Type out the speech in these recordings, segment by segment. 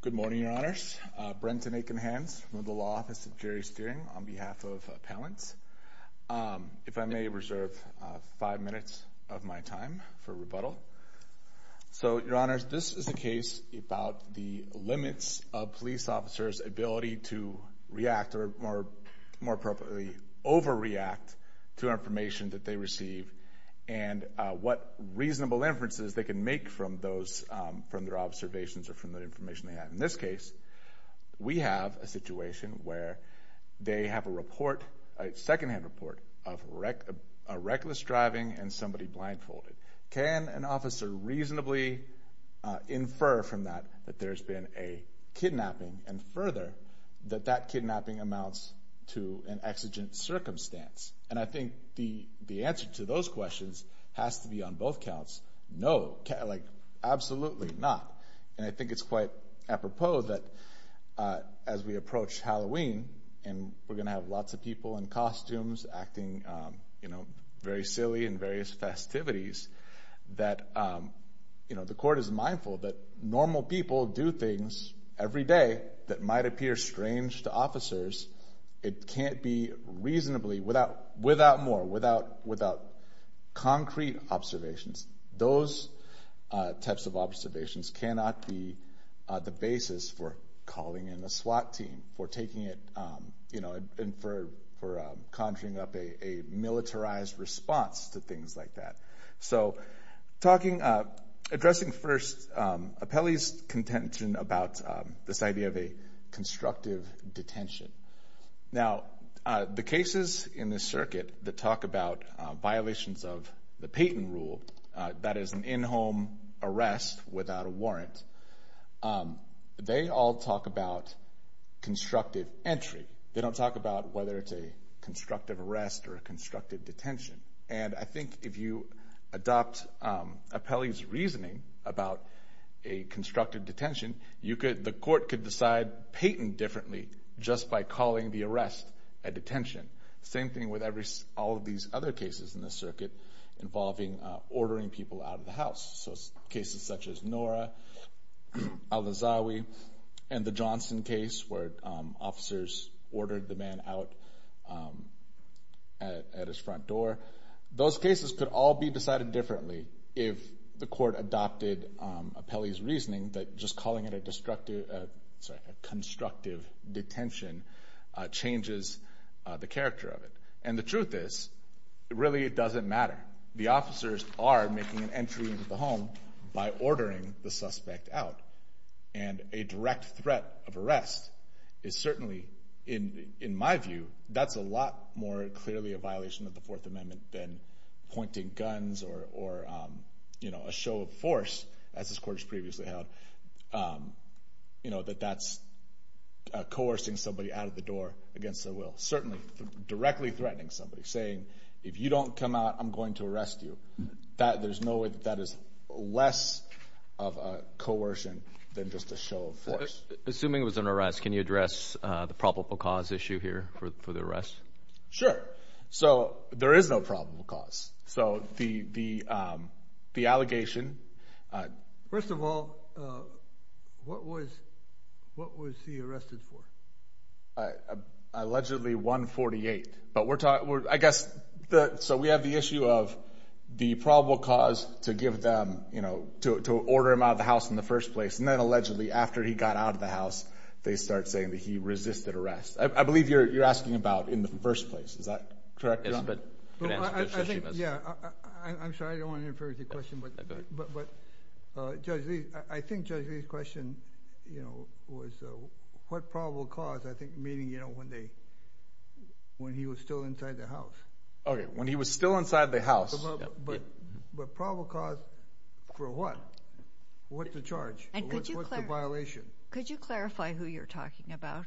Good morning, Your Honors. Brenton Aiken-Hans from the Law Office of Jerry Steering on behalf of Appellants. If I may reserve five minutes of my time for rebuttal. So, Your Honors, this is a case about the limits of police officers' ability to react or, more appropriately, overreact to information that they receive and what reasonable inferences they can make from their observations or from the information they have. In this case, we have a situation where they have a secondhand report of reckless driving and somebody blindfolded. Can an officer reasonably infer from that that there's been a kidnapping and, further, that that kidnapping amounts to an exigent circumstance? And I think the answer to those questions has to be on both counts, no, like, absolutely not. And I think it's quite apropos that as we approach Halloween and we're going to have lots of people in costumes acting, you know, very silly in various festivities, that, you know, the court is mindful that normal people do things every day that might appear strange to officers. It can't be reasonably, without more, without concrete observations. Those types of observations cannot be the basis for calling in a SWAT team, for taking it, you know, and for conjuring up a militarized response to things like that. So, talking, addressing first Apelli's contention about this idea of a constructive detention. Now, the cases in this circuit that talk about violations of the Payton rule, that is an in-home arrest without a warrant, they all talk about constructive entry. They don't talk about whether it's a constructive arrest or a constructive detention. And I think if you adopt Apelli's reasoning about a constructive detention, you could, the court could decide Payton differently just by calling the arrest a detention. Same thing with every, all of these other cases in this circuit involving ordering people out of the house. So, cases such as Nora, Al-Azawi, and the Johnson case where officers ordered the man out at his front door. Those cases could all be decided differently if the court adopted Apelli's reasoning that just calling it a destructive, sorry, a constructive detention changes the character of it. And the truth is, really it doesn't matter. The officers are making an entry into the home by ordering the suspect out. And a direct threat of arrest is certainly, in my view, that's a lot more clearly a violation of the Fourth Amendment than pointing guns or, you know, a show of force, as this court has determined, you know, that that's coercing somebody out of the door against their will. Certainly directly threatening somebody, saying, if you don't come out, I'm going to arrest you. There's no way that that is less of a coercion than just a show of force. Assuming it was an arrest, can you address the probable cause issue here for the arrest? Sure. So there is no probable cause. So the allegation... First of all, what was he arrested for? Allegedly 148. But we're talking, I guess, so we have the issue of the probable cause to give them, you know, to order him out of the house in the first place. And then allegedly after he got out of the house, they start saying that he resisted arrest. I believe you're asking about in the first place. Is that correct? I think, yeah. I'm sorry, I don't want to infer the question, but Judge Lee, I think Judge Lee's question, you know, was what probable cause? I think, meaning, you know, when they, when he was still inside the house. Okay. When he was still inside the house. But probable cause for what? What's the charge? What's the violation? Could you clarify who you're talking about?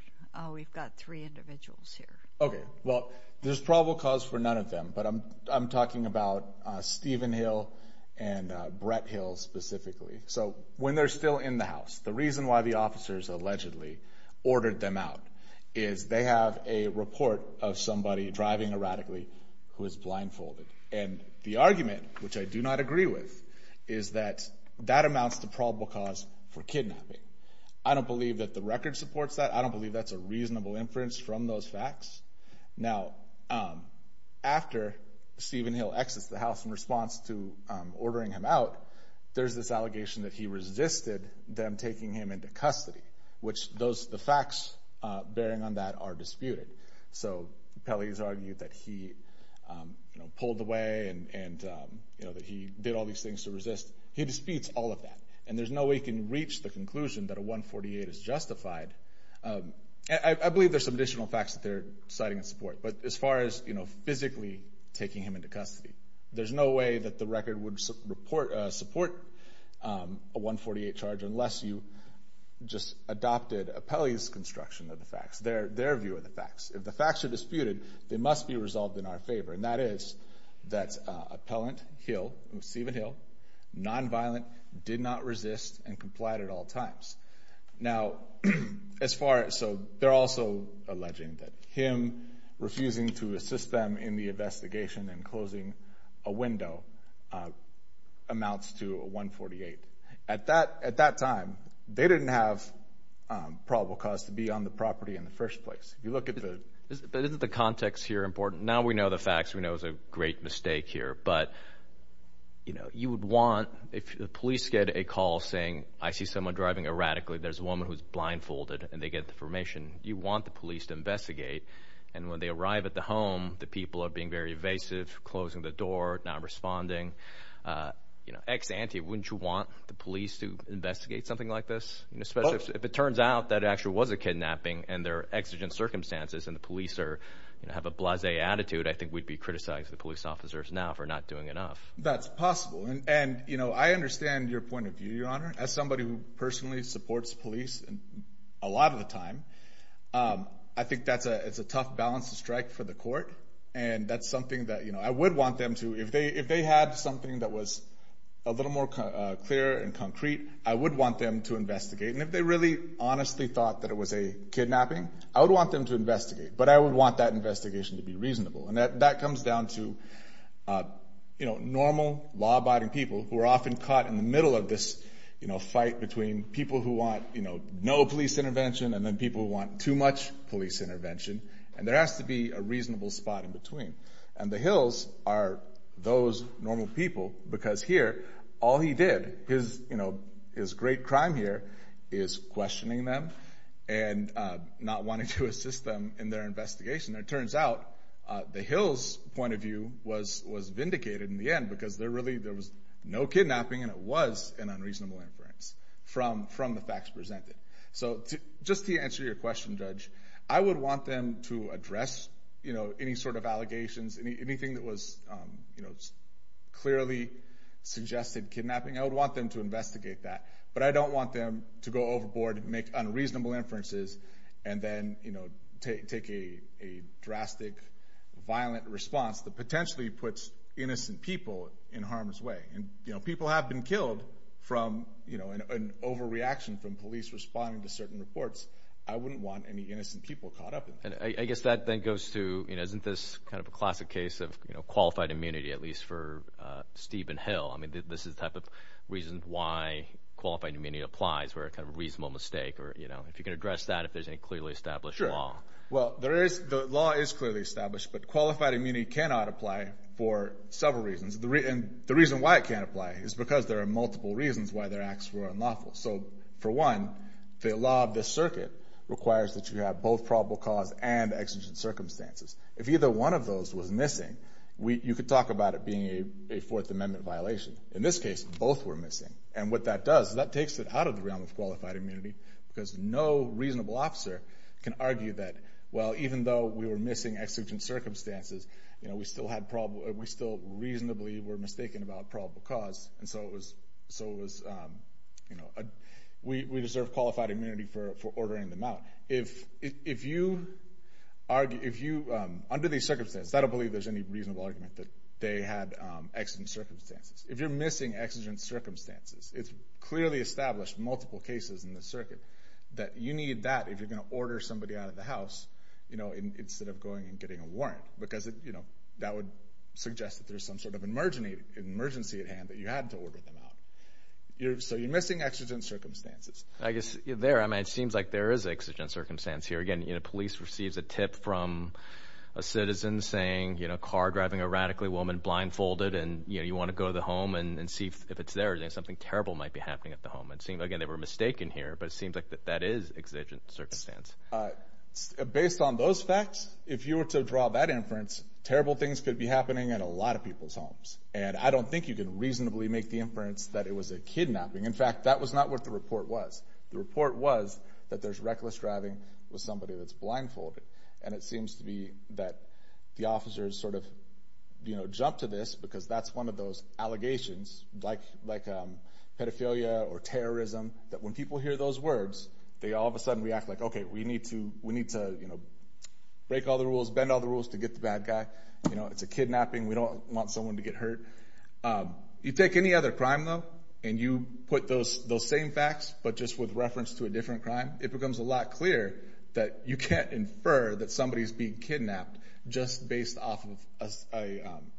We've got three individuals here. Okay. Well, there's probable cause for none of them, but I'm talking about Stephen Hill and Brett Hill specifically. So when they're still in the house, the reason why the officers allegedly ordered them out is they have a report of somebody driving erratically who is blindfolded. And the argument, which I do not agree with, is that that amounts to probable cause for kidnapping. I don't believe that the record supports that. I don't believe that's a reasonable inference from those facts. Now, after Stephen Hill exits the house in response to ordering him out, there's this allegation that he resisted them taking him into custody, which those, the facts bearing on that are disputed. So Pelley's argued that he, you know, pulled away and, you know, that he did all these things to resist. He disputes all of that. And there's no way he can reach the conclusion that a 148 is justified. I believe there's some additional facts that they're citing in support, but as far as, you know, physically taking him into custody, there's no way that the record would support a 148 charge unless you just adopted Pelley's construction of the facts, their view of the facts. If the facts are disputed, they must be resolved in our favor. And that is that appellant Hill, Stephen Hill, nonviolent, did not resist and complied at all times. Now, as far as, so they're also alleging that him refusing to assist them in the investigation and closing a window amounts to a 148. At that time, they didn't have probable cause to be on the property in the first place. If you look at the... But isn't the context here important? Now we know the facts. We know it was a great mistake here, but, you know, you would want, if the police get a call saying, I see someone driving erratically, there's a woman who's blindfolded and they get the information, you want the police to investigate. And when they arrive at the home, the people are being very evasive, closing the door, not responding. You know, ex ante, wouldn't you want the police to investigate something like this? Especially if it turns out that it actually was a kidnapping and they're exigent circumstances and the police are, you know, have a blasé attitude, I think we'd be criticizing the police officers now for not doing enough. That's possible. And, you know, I understand your point of view, Your Honor. As somebody who personally supports police a lot of the time, I think that's a tough balance to strike for the court. And that's something that, you know, I would want them to, if they had something that was a little more clear and concrete, I would want them to investigate. And if they really honestly thought that it was a kidnapping, I would want them to investigate. But I would that investigation to be reasonable. And that comes down to, you know, normal, law-abiding people who are often caught in the middle of this, you know, fight between people who want, you know, no police intervention and then people who want too much police intervention. And there has to be a reasonable spot in between. And the Hills are those normal people because here, all he did, his, you know, his great crime here is questioning them and not wanting to assist them in their investigation. And it turns out the Hills' point of view was vindicated in the end because there really, there was no kidnapping and it was an unreasonable inference from the facts presented. So just to answer your question, Judge, I would want them to address, you know, any sort of allegations, anything that was, you know, clearly suggested kidnapping, I would want them to investigate that. But I don't want them to go overboard and make unreasonable inferences and then, you know, take a drastic, violent response that potentially puts innocent people in harm's way. And, you know, people have been killed from, you know, an overreaction from police responding to certain reports. I wouldn't want any innocent people caught up in that. And I guess that then goes to, you know, isn't this kind of a classic case of, you know, qualified immunity, at least for Steve and Hill? I mean, this is the type of reason why or, you know, if you can address that, if there's any clearly established law. Sure. Well, there is, the law is clearly established, but qualified immunity cannot apply for several reasons. And the reason why it can't apply is because there are multiple reasons why their acts were unlawful. So for one, the law of this circuit requires that you have both probable cause and exigent circumstances. If either one of those was missing, you could talk about it being a Fourth Amendment violation. In this case, both were missing. And what that does is that takes it out of the realm of qualified immunity because no reasonable officer can argue that, well, even though we were missing exigent circumstances, you know, we still had probable, we still reasonably were mistaken about probable cause. And so it was, so it was, you know, we deserve qualified immunity for ordering them out. If you argue, if you, under these circumstances, I don't believe there's any reasonable argument that they had exigent circumstances. If you're missing exigent circumstances, it's clearly established in multiple cases in the circuit that you need that if you're going to order somebody out of the house, you know, instead of going and getting a warrant. Because, you know, that would suggest that there's some sort of emergency at hand that you had to order them out. So you're missing exigent circumstances. I guess there, I mean, it seems like there is exigent circumstance here. Again, you know, police receives a tip from a citizen saying, car driving a radically woman, blindfolded, and you want to go to the home and see if it's there, something terrible might be happening at the home. It seems, again, they were mistaken here, but it seems like that that is exigent circumstance. Based on those facts, if you were to draw that inference, terrible things could be happening at a lot of people's homes. And I don't think you can reasonably make the inference that it was a kidnapping. In fact, that was not what the report was. The report was that there's reckless driving with somebody that's blindfolded. And it seems to be that the officers sort of, you know, jump to this because that's one of those allegations, like pedophilia or terrorism, that when people hear those words, they all of a sudden react like, okay, we need to, you know, break all the rules, bend all the rules to get the bad guy. You know, it's a kidnapping. We don't want someone to get hurt. You take any other crime, though, and you put those same facts, but just with reference to a different crime, it becomes a lot clearer that you can't infer that somebody's being kidnapped just based off of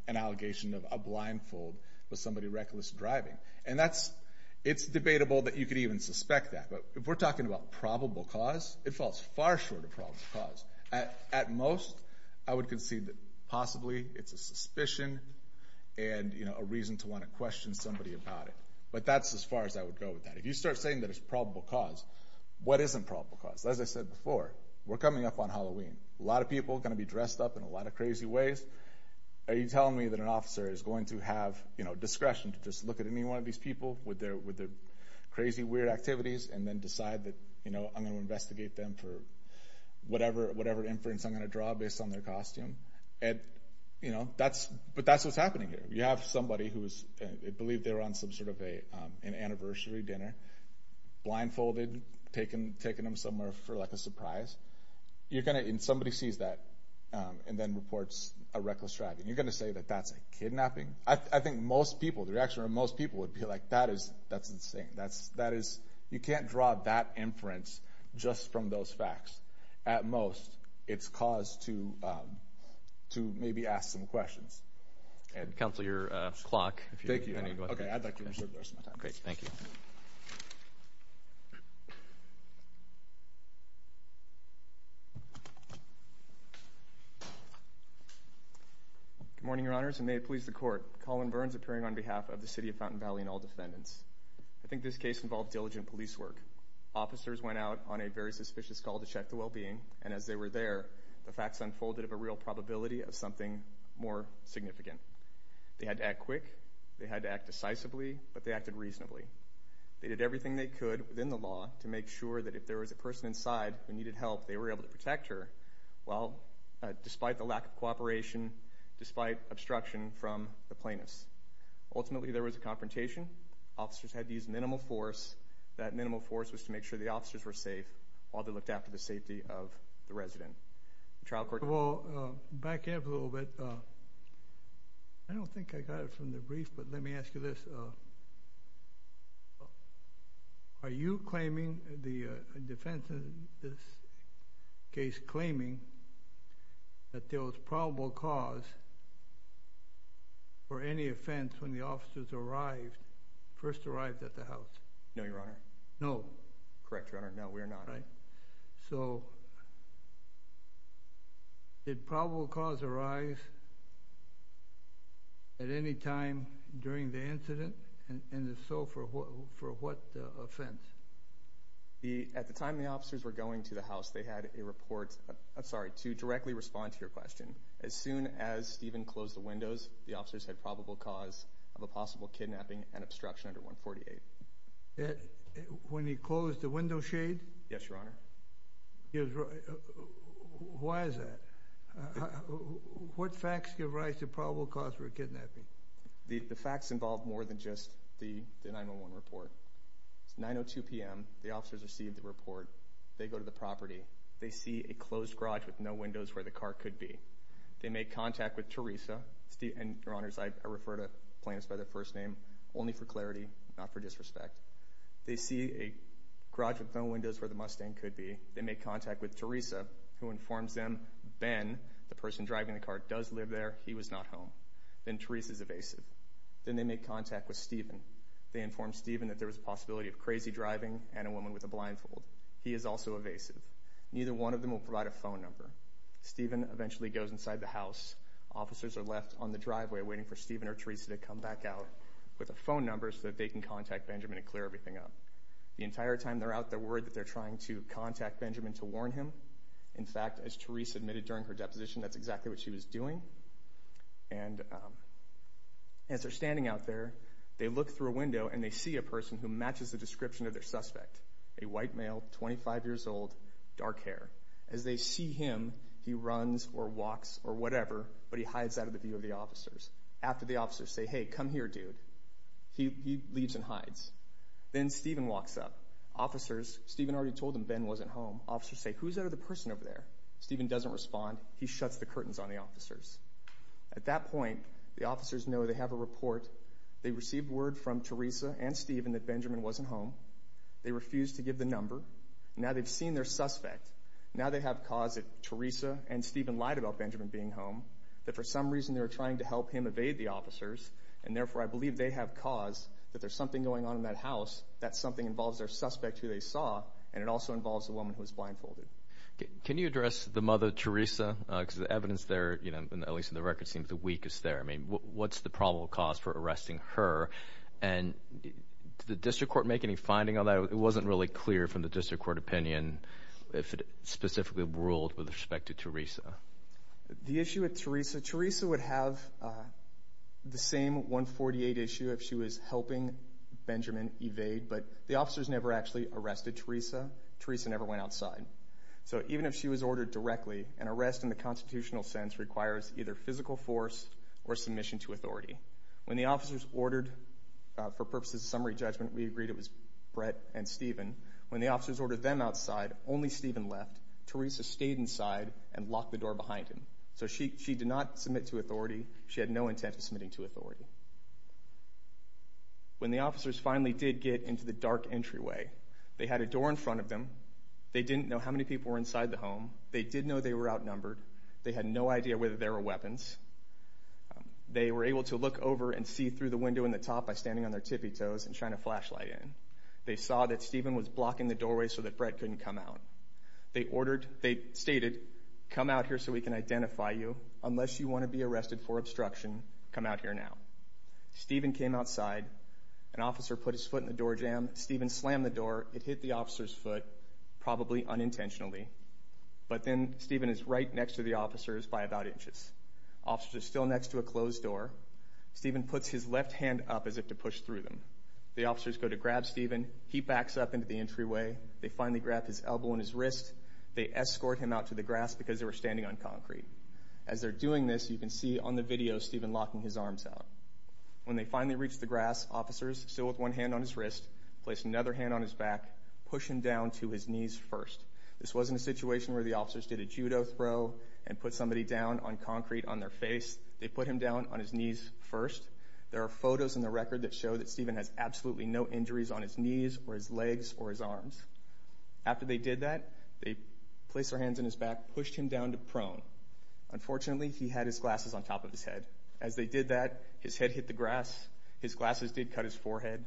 an allegation of a blindfold with somebody reckless driving. And that's, it's debatable that you could even suspect that. But if we're talking about probable cause, it falls far short of probable cause. At most, I would concede that possibly it's a suspicion and, you know, a reason to want to question somebody about it. But that's as far as I would go with that. If you start saying that it's probable cause, what isn't probable cause? As I said before, we're coming up on Halloween. A lot of people are going to be dressed up in a lot of crazy ways. Are you telling me that an officer is going to have, you know, discretion to just look at any one of these people with their with their crazy weird activities and then decide that, you know, I'm going to investigate them for whatever, whatever inference I'm going to draw based on their costume? And, you know, that's, but that's what's happening here. You have somebody who is, I believe they were on some sort of a, an anniversary dinner, blindfolded, taking, taking them somewhere for like a surprise. You're going to, and somebody sees that and then reports a reckless driving. You're going to say that that's a kidnapping. I think most people, the reaction of most people would be like, that is, that's insane. That's, that is, you can't draw that inference just from those facts. At most, it's cause to, to maybe ask some questions. Counselor, your clock. Thank you. Great. Thank you. Good morning, your honors, and may it please the court. Colin Burns appearing on behalf of the city of Fountain Valley and all defendants. I think this case involved diligent police work. Officers went out on a very suspicious call to check the well-being, and as they were there, the facts unfolded of a real probability of something more significant. They had to act quick. They had to act decisively, but they acted reasonably. They did everything they could within the law to make sure that if there was a person inside who needed help, they were able to protect her, well, despite the lack of cooperation, despite obstruction from the plaintiffs. Ultimately, there was a confrontation. Officers had to use minimal force. That minimal force was to make sure the officers were safe while they looked after the safety of the resident. Trial court. Well, back up a little bit. I don't think I got it from the brief, but let me ask you this. Are you claiming the defense in this case claiming that there was probable cause for any offense when the officers arrived, first arrived at the house? No, your honor. No. Correct, your honor. No, we are not. So did probable cause arise at any time during the incident? And if so, for what offense? At the time the officers were going to the house, they had a report, sorry, to directly respond to your question. As soon as Stephen closed the windows, the officers had probable cause of a possible kidnapping and obstruction under 148. When he closed the window shade? Yes, your honor. Why is that? What facts give rise to probable cause for a kidnapping? The facts involve more than just the 911 report. It's 9.02 p.m. The officers received the report. They go to the property. They see a closed garage with no windows where the car could be. They make contact with Teresa, and your honors, I refer to plaintiffs by their first name only for clarity, not for disrespect. They see a garage with no windows where the Mustang could be. They make contact with Teresa, who informs them Ben, the person driving the car, does live there. He was not home. Then Teresa is evasive. Then they make contact with Stephen. They inform Stephen that there was a possibility of crazy driving and a woman with a blindfold. He is also evasive. Neither one of them will provide a phone number. Stephen eventually goes inside the house. Officers are left on the driveway waiting for Stephen or Teresa to come back out with a phone number so that they can contact Benjamin and clear everything up. The entire time they're out, they're worried that they're trying to contact Benjamin to warn him. In fact, as Teresa admitted during her deposition, that's exactly what she was doing. And as they're standing out there, they look through a window and they see a person who matches the description of their suspect, a white male, 25 years old, dark hair. As they see him, he runs or walks or whatever, but he hides out of the view of the officers. After the officers say, hey, come here, dude, he leaves and hides. Then Stephen walks up. Officers, Stephen already told them Ben wasn't home. Officers say, who's that other person over there? Stephen doesn't respond. He shuts the curtains on the officers. At that point, the officers know they have a report. They received word from Teresa and Stephen that Benjamin wasn't home. They refused to give the number. Now they've seen their suspect. Now they have cause that Teresa and Stephen lied about Benjamin being home, that for some reason they were trying to help him evade the officers. And therefore, I believe they have cause that there's something going on in that house, that something involves their suspect who they saw, and it also involves a woman who was blindfolded. Can you address the mother, Teresa? Because the evidence there, at least in the record, seems the weakest there. I mean, what's the probable cause for arresting her? And did the district court make any finding on that? It wasn't really clear from the district court opinion if it specifically ruled with respect to Teresa. The issue with Teresa, Teresa would have the same 148 issue if she was helping Benjamin evade, but the officers never actually arrested Teresa. Teresa never went outside. So even if she was ordered directly, an arrest in the constitutional sense requires either physical force or submission to authority. When the officers ordered, for purposes of summary judgment, we agreed it was Brett and Stephen. When the officers ordered them outside, only Stephen left. Teresa stayed inside and locked the door behind him. So she did not submit to authority. She had no intent of submitting to authority. When the officers finally did get into the dark entryway, they had a door in front of them. They didn't know how many people were inside the home. They did know they were outnumbered. They had no idea whether there were weapons. They were able to look over and see through the window in the top by standing on their tippy-toes and trying to flashlight in. They saw that Stephen was blocking the doorway so that Brett couldn't come out. They ordered, they stated, come out here so we can identify you. Unless you want to be arrested for obstruction, come out here now. Stephen came outside. An officer put his foot in the doorjamb. Stephen slammed the door. It hit the officer's foot, probably unintentionally. But then Stephen is right next to the officers by about inches. Officers are still next to a closed door. Stephen puts his left hand up as if to push through them. The officers go to grab Stephen. He backs up into the entryway. They finally grab his elbow and his wrist. They escort him out to the grass because they were standing on concrete. As they're doing this, you can see on the video Stephen locking his arms out. When they finally reach the grass, officers, still with one hand on his wrist, place another hand on his back, push him down to his knees first. This wasn't a situation where the officers did a judo throw and put somebody down on concrete on their face. They put him down on his knees first. There are photos in the record that show that Stephen has absolutely no injuries on his knees or his legs or his arms. After they did that, they placed their hands on his back, pushed him down to prone. Unfortunately, he had his glasses on top of his head. As they did that, his head hit the grass. His glasses did cut his forehead.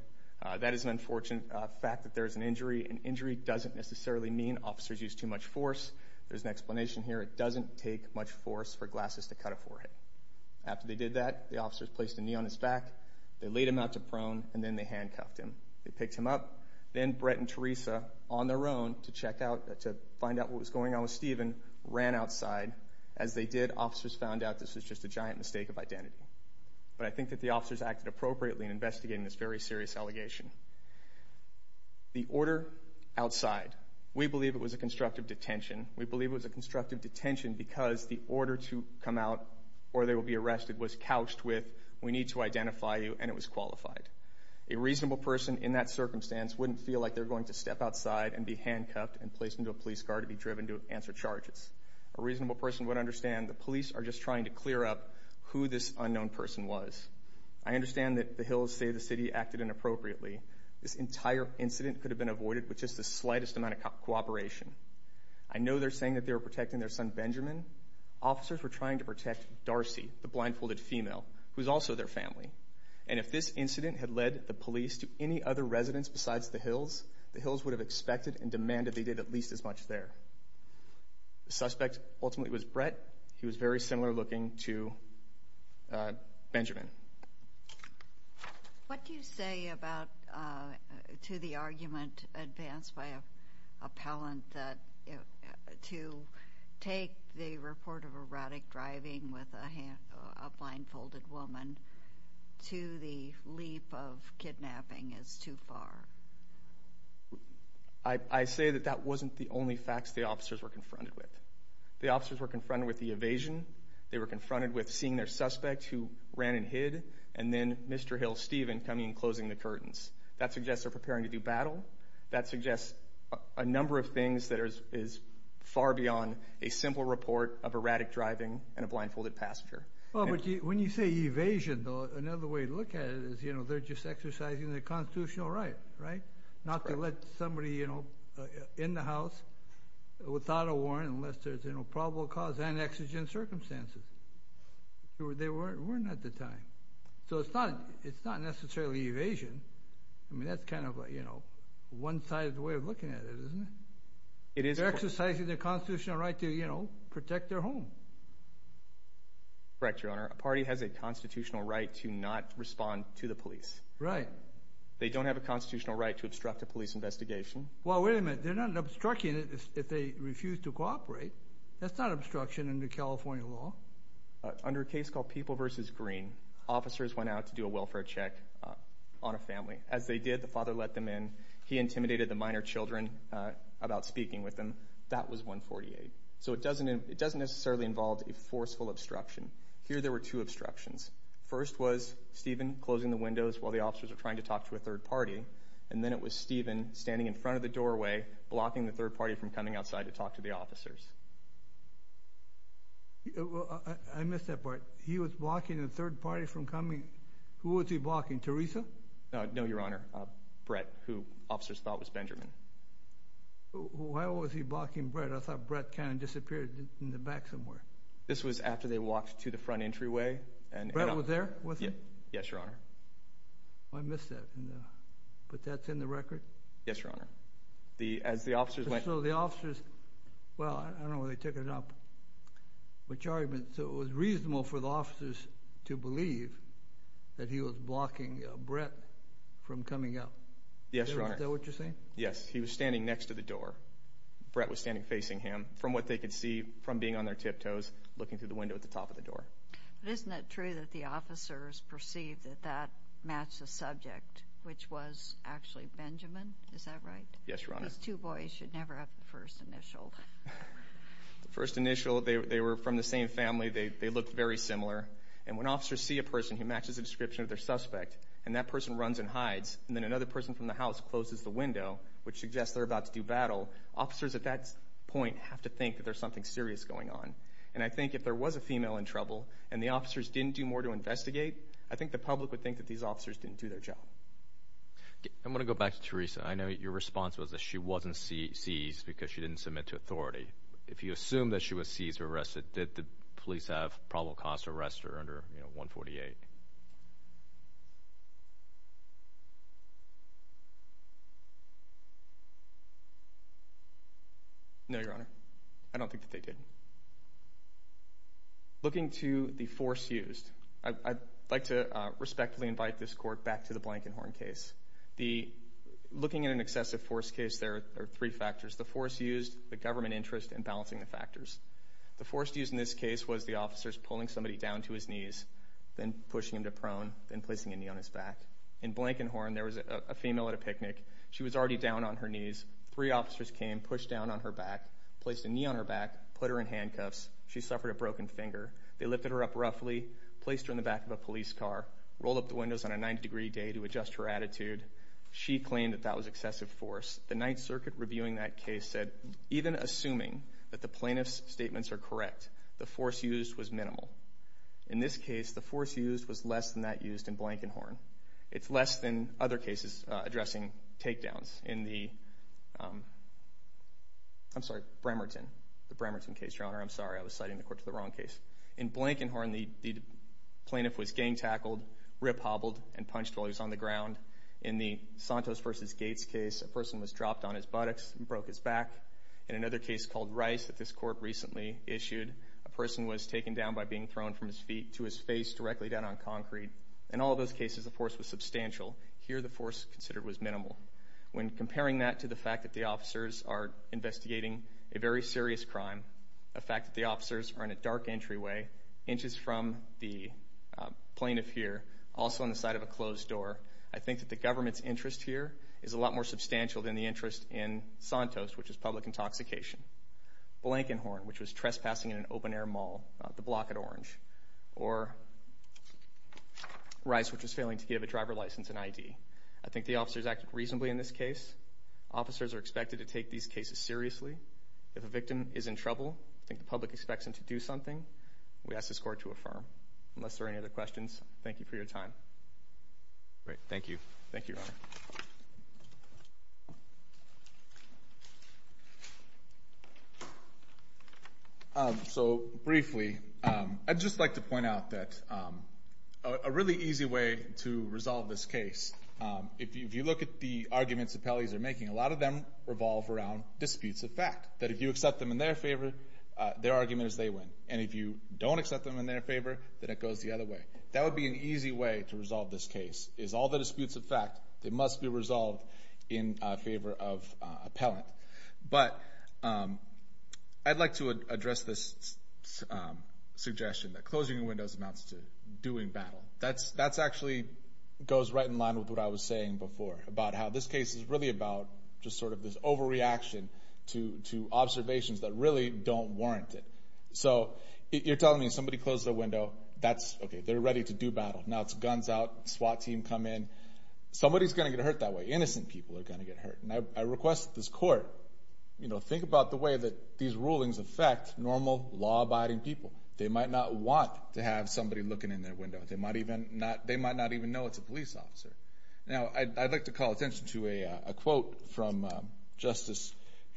That is an unfortunate fact that there is an injury. An injury doesn't necessarily mean officers use too much force. There's an explanation here. It doesn't take much force for glasses to cut a forehead. After they did that, the officers placed a knee on his back. They laid him out to prone, and then they handcuffed him. They picked him up. Then Brett and Teresa, on their own, to find out what was going on with Stephen, ran outside. As they did, officers found out this was just a giant mistake of identity. But I think that the officers acted appropriately in investigating this very serious allegation. The order outside. We believe it was a constructive detention. We believe it was a constructive detention because the order to come out or they will be arrested was couched with, we need to identify you, and it was qualified. A reasonable person in that circumstance wouldn't feel like they're going to step outside and be handcuffed and placed into a police car to be driven to answer charges. A reasonable person would understand the police are just trying to clear up who this unknown person was. I understand that the Hills say the city acted inappropriately, this entire incident could have been avoided with just the slightest amount of cooperation. I know they're saying that they were protecting their son Benjamin. Officers were trying to protect Darcy, the blindfolded female, who is also their family. And if this incident had led the police to any other residents besides the Hills, the Hills would have expected and demanded they did at least as much there. The suspect ultimately was Brett. He was very similar looking to Benjamin. What do you say to the argument advanced by appellant that to take the report of erratic driving with a blindfolded woman to the leap of kidnapping is too far? I say that that wasn't the only facts the officers were confronted with. The officers were confronted with the evasion. They were confronted with seeing their suspect who ran and hid. And then Mr Hill Stephen coming and closing the curtains. That suggests they're preparing to do battle. That suggests a number of things that is far beyond a simple report of erratic driving and a blindfolded passenger. When you say evasion, though, another way to look at it is, you know, they're just exercising their constitutional right, right? Not to let somebody, you know, in the house without a warrant, unless there's no probable cause and exigent circumstances where they weren't weren't at the time. So it's not. It's not necessarily evasion. I mean, that's kind of, you know, one side of the way of looking at it, isn't it? It is exercising their constitutional right to, you know, protect their home. Correct. Your Honor, a party has a constitutional right to not respond to the police, right? They don't have a constitutional right to obstruct a police investigation. Well, wait a minute. They're not obstructing it if they refuse to cooperate. That's not obstruction under California law. Under a case called People vs. Green, officers went out to do a welfare check on a family. As they did, the father let them in. He intimidated the minor children about speaking with them. That was 148. So it doesn't necessarily involve a forceful obstruction. Here there were two obstructions. First was Stephen closing the windows while the officers were trying to talk to a third party. And then it was Stephen standing in front of the doorway, blocking the third party from coming outside to talk to the officers. I missed that part. He was blocking the third party from coming. Who was he blocking? Teresa? No, Your Honor. Brett, who officers thought was Benjamin. Why was he blocking Brett? I thought Brett kind of disappeared in the back somewhere. This was after they walked to the front entryway. And Brett was there with him? Yes, Your Honor. I missed that. But that's in the record? Yes, Your Honor. Well, I don't know where they took it up. So it was reasonable for the officers to believe that he was blocking Brett from coming out? Yes, Your Honor. Is that what you're saying? Yes. He was standing next to the door. Brett was standing facing him. From what they could see, from being on their tiptoes, looking through the window at the top of the door. But isn't it true that the matched the subject, which was actually Benjamin? Is that right? Yes, Your Honor. These two boys should never have the first initial. The first initial, they were from the same family. They looked very similar. And when officers see a person who matches a description of their suspect, and that person runs and hides, and then another person from the house closes the window, which suggests they're about to do battle, officers at that point have to think that there's something serious going on. And I think if there was a female in trouble, and the officers didn't do more to investigate, I think the public would think that these officers didn't do their job. I'm going to go back to Teresa. I know your response was that she wasn't seized because she didn't submit to authority. If you assume that she was seized or arrested, did the police have probable cause to arrest her under 148? No, Your Honor. I don't think that they did. Looking to the force used, I'd like to respectfully invite this court back to the Blankenhorn case. Looking at an excessive force case, there are three factors. The force used, the government interest, and balancing the factors. The force used in this case was the pushing him to prone, then placing a knee on his back. In Blankenhorn, there was a female at a picnic. She was already down on her knees. Three officers came, pushed down on her back, placed a knee on her back, put her in handcuffs. She suffered a broken finger. They lifted her up roughly, placed her in the back of a police car, rolled up the windows on a 90-degree day to adjust her attitude. She claimed that that was excessive force. The Ninth Circuit reviewing that case said, even assuming that the plaintiff's statements are correct, the force used was less than that used in Blankenhorn. It's less than other cases addressing takedowns in the Bremerton case, Your Honor. I'm sorry, I was citing the court to the wrong case. In Blankenhorn, the plaintiff was gang-tackled, rip-hobbled, and punched while he was on the ground. In the Santos v. Gates case, a person was dropped on his buttocks and broke his back. In another case called Rice that this court recently issued, a person was taken down by being thrown from his feet to his face directly down on concrete. In all those cases, the force was substantial. Here, the force considered was minimal. When comparing that to the fact that the officers are investigating a very serious crime, the fact that the officers are in a dark entryway inches from the plaintiff here, also on the side of a closed door, I think that the government's interest here is a lot more substantial than the interest in Santos, which is public intoxication. Blankenhorn, which was trespassing in an open-air mall, the block at Orange. Or Rice, which was failing to give a driver license and ID. I think the officers acted reasonably in this case. Officers are expected to take these cases seriously. If a victim is in trouble, I think the public expects them to do something. We ask this court to affirm. Unless there are other questions, thank you for your time. Great, thank you. Thank you, Your Honor. So briefly, I'd just like to point out that a really easy way to resolve this case, if you look at the arguments the appellees are making, a lot of them revolve around disputes of fact. That if you accept them in their favor, their argument is they win. And if you don't accept them in their favor, then it goes the other way. That would be an easy way to resolve this case, is all the disputes of fact, they must be resolved in favor of appellant. But I'd like to address this suggestion that closing windows amounts to doing battle. That actually goes right in line with what I was saying before about how this case is really about just sort of this overreaction to observations that really don't warrant it. So you're telling me if somebody closes a window, that's okay. They're ready to do battle. Now it's guns out, SWAT team come in. Somebody's going to get hurt that way. Innocent people are going to get hurt. And I request this court, you know, think about the way that these rulings affect normal, law-abiding people. They might not want to have somebody looking in their window. They might not even know it's a police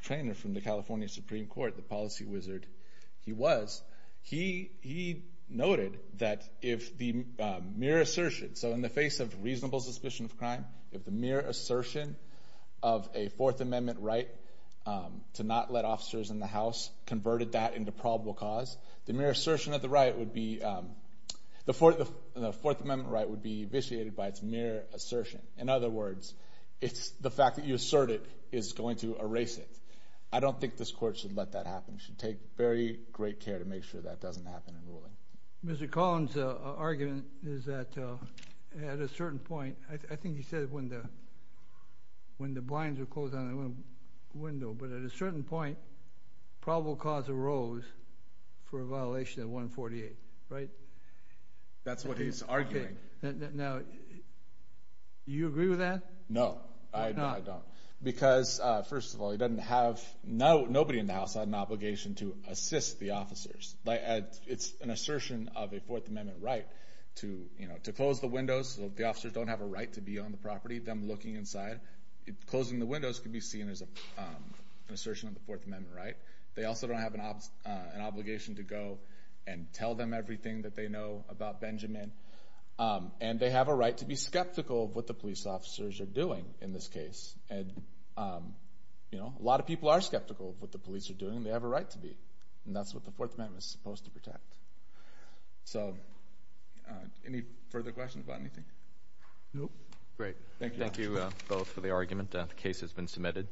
trainer from the California Supreme Court, the policy wizard he was. He noted that if the mere assertion, so in the face of reasonable suspicion of crime, if the mere assertion of a Fourth Amendment right to not let officers in the house converted that into probable cause, the mere assertion of the right would be, the Fourth Amendment right would be vitiated by its assertion. In other words, it's the fact that you assert it is going to erase it. I don't think this court should let that happen. It should take very great care to make sure that doesn't happen in ruling. Mr. Collins' argument is that at a certain point, I think he said when the blinds are closed on a window, but at a certain point, probable cause arose for a violation of 148, right? That's what he's arguing. Now, you agree with that? No, I don't. Because, first of all, nobody in the house had an obligation to assist the officers. It's an assertion of a Fourth Amendment right to close the windows so the officers don't have a right to be on the property, them looking inside. Closing the windows can be seen as an assertion of the Fourth Amendment right. They also don't have an obligation to go and tell them everything that they know about Benjamin, and they have a right to be skeptical of what the police officers are doing in this case. A lot of people are skeptical of what the police are doing, and they have a right to be, and that's what the Fourth Amendment is supposed to protect. Any further questions about anything? No. Great. Thank you both for the argument. The case has been submitted.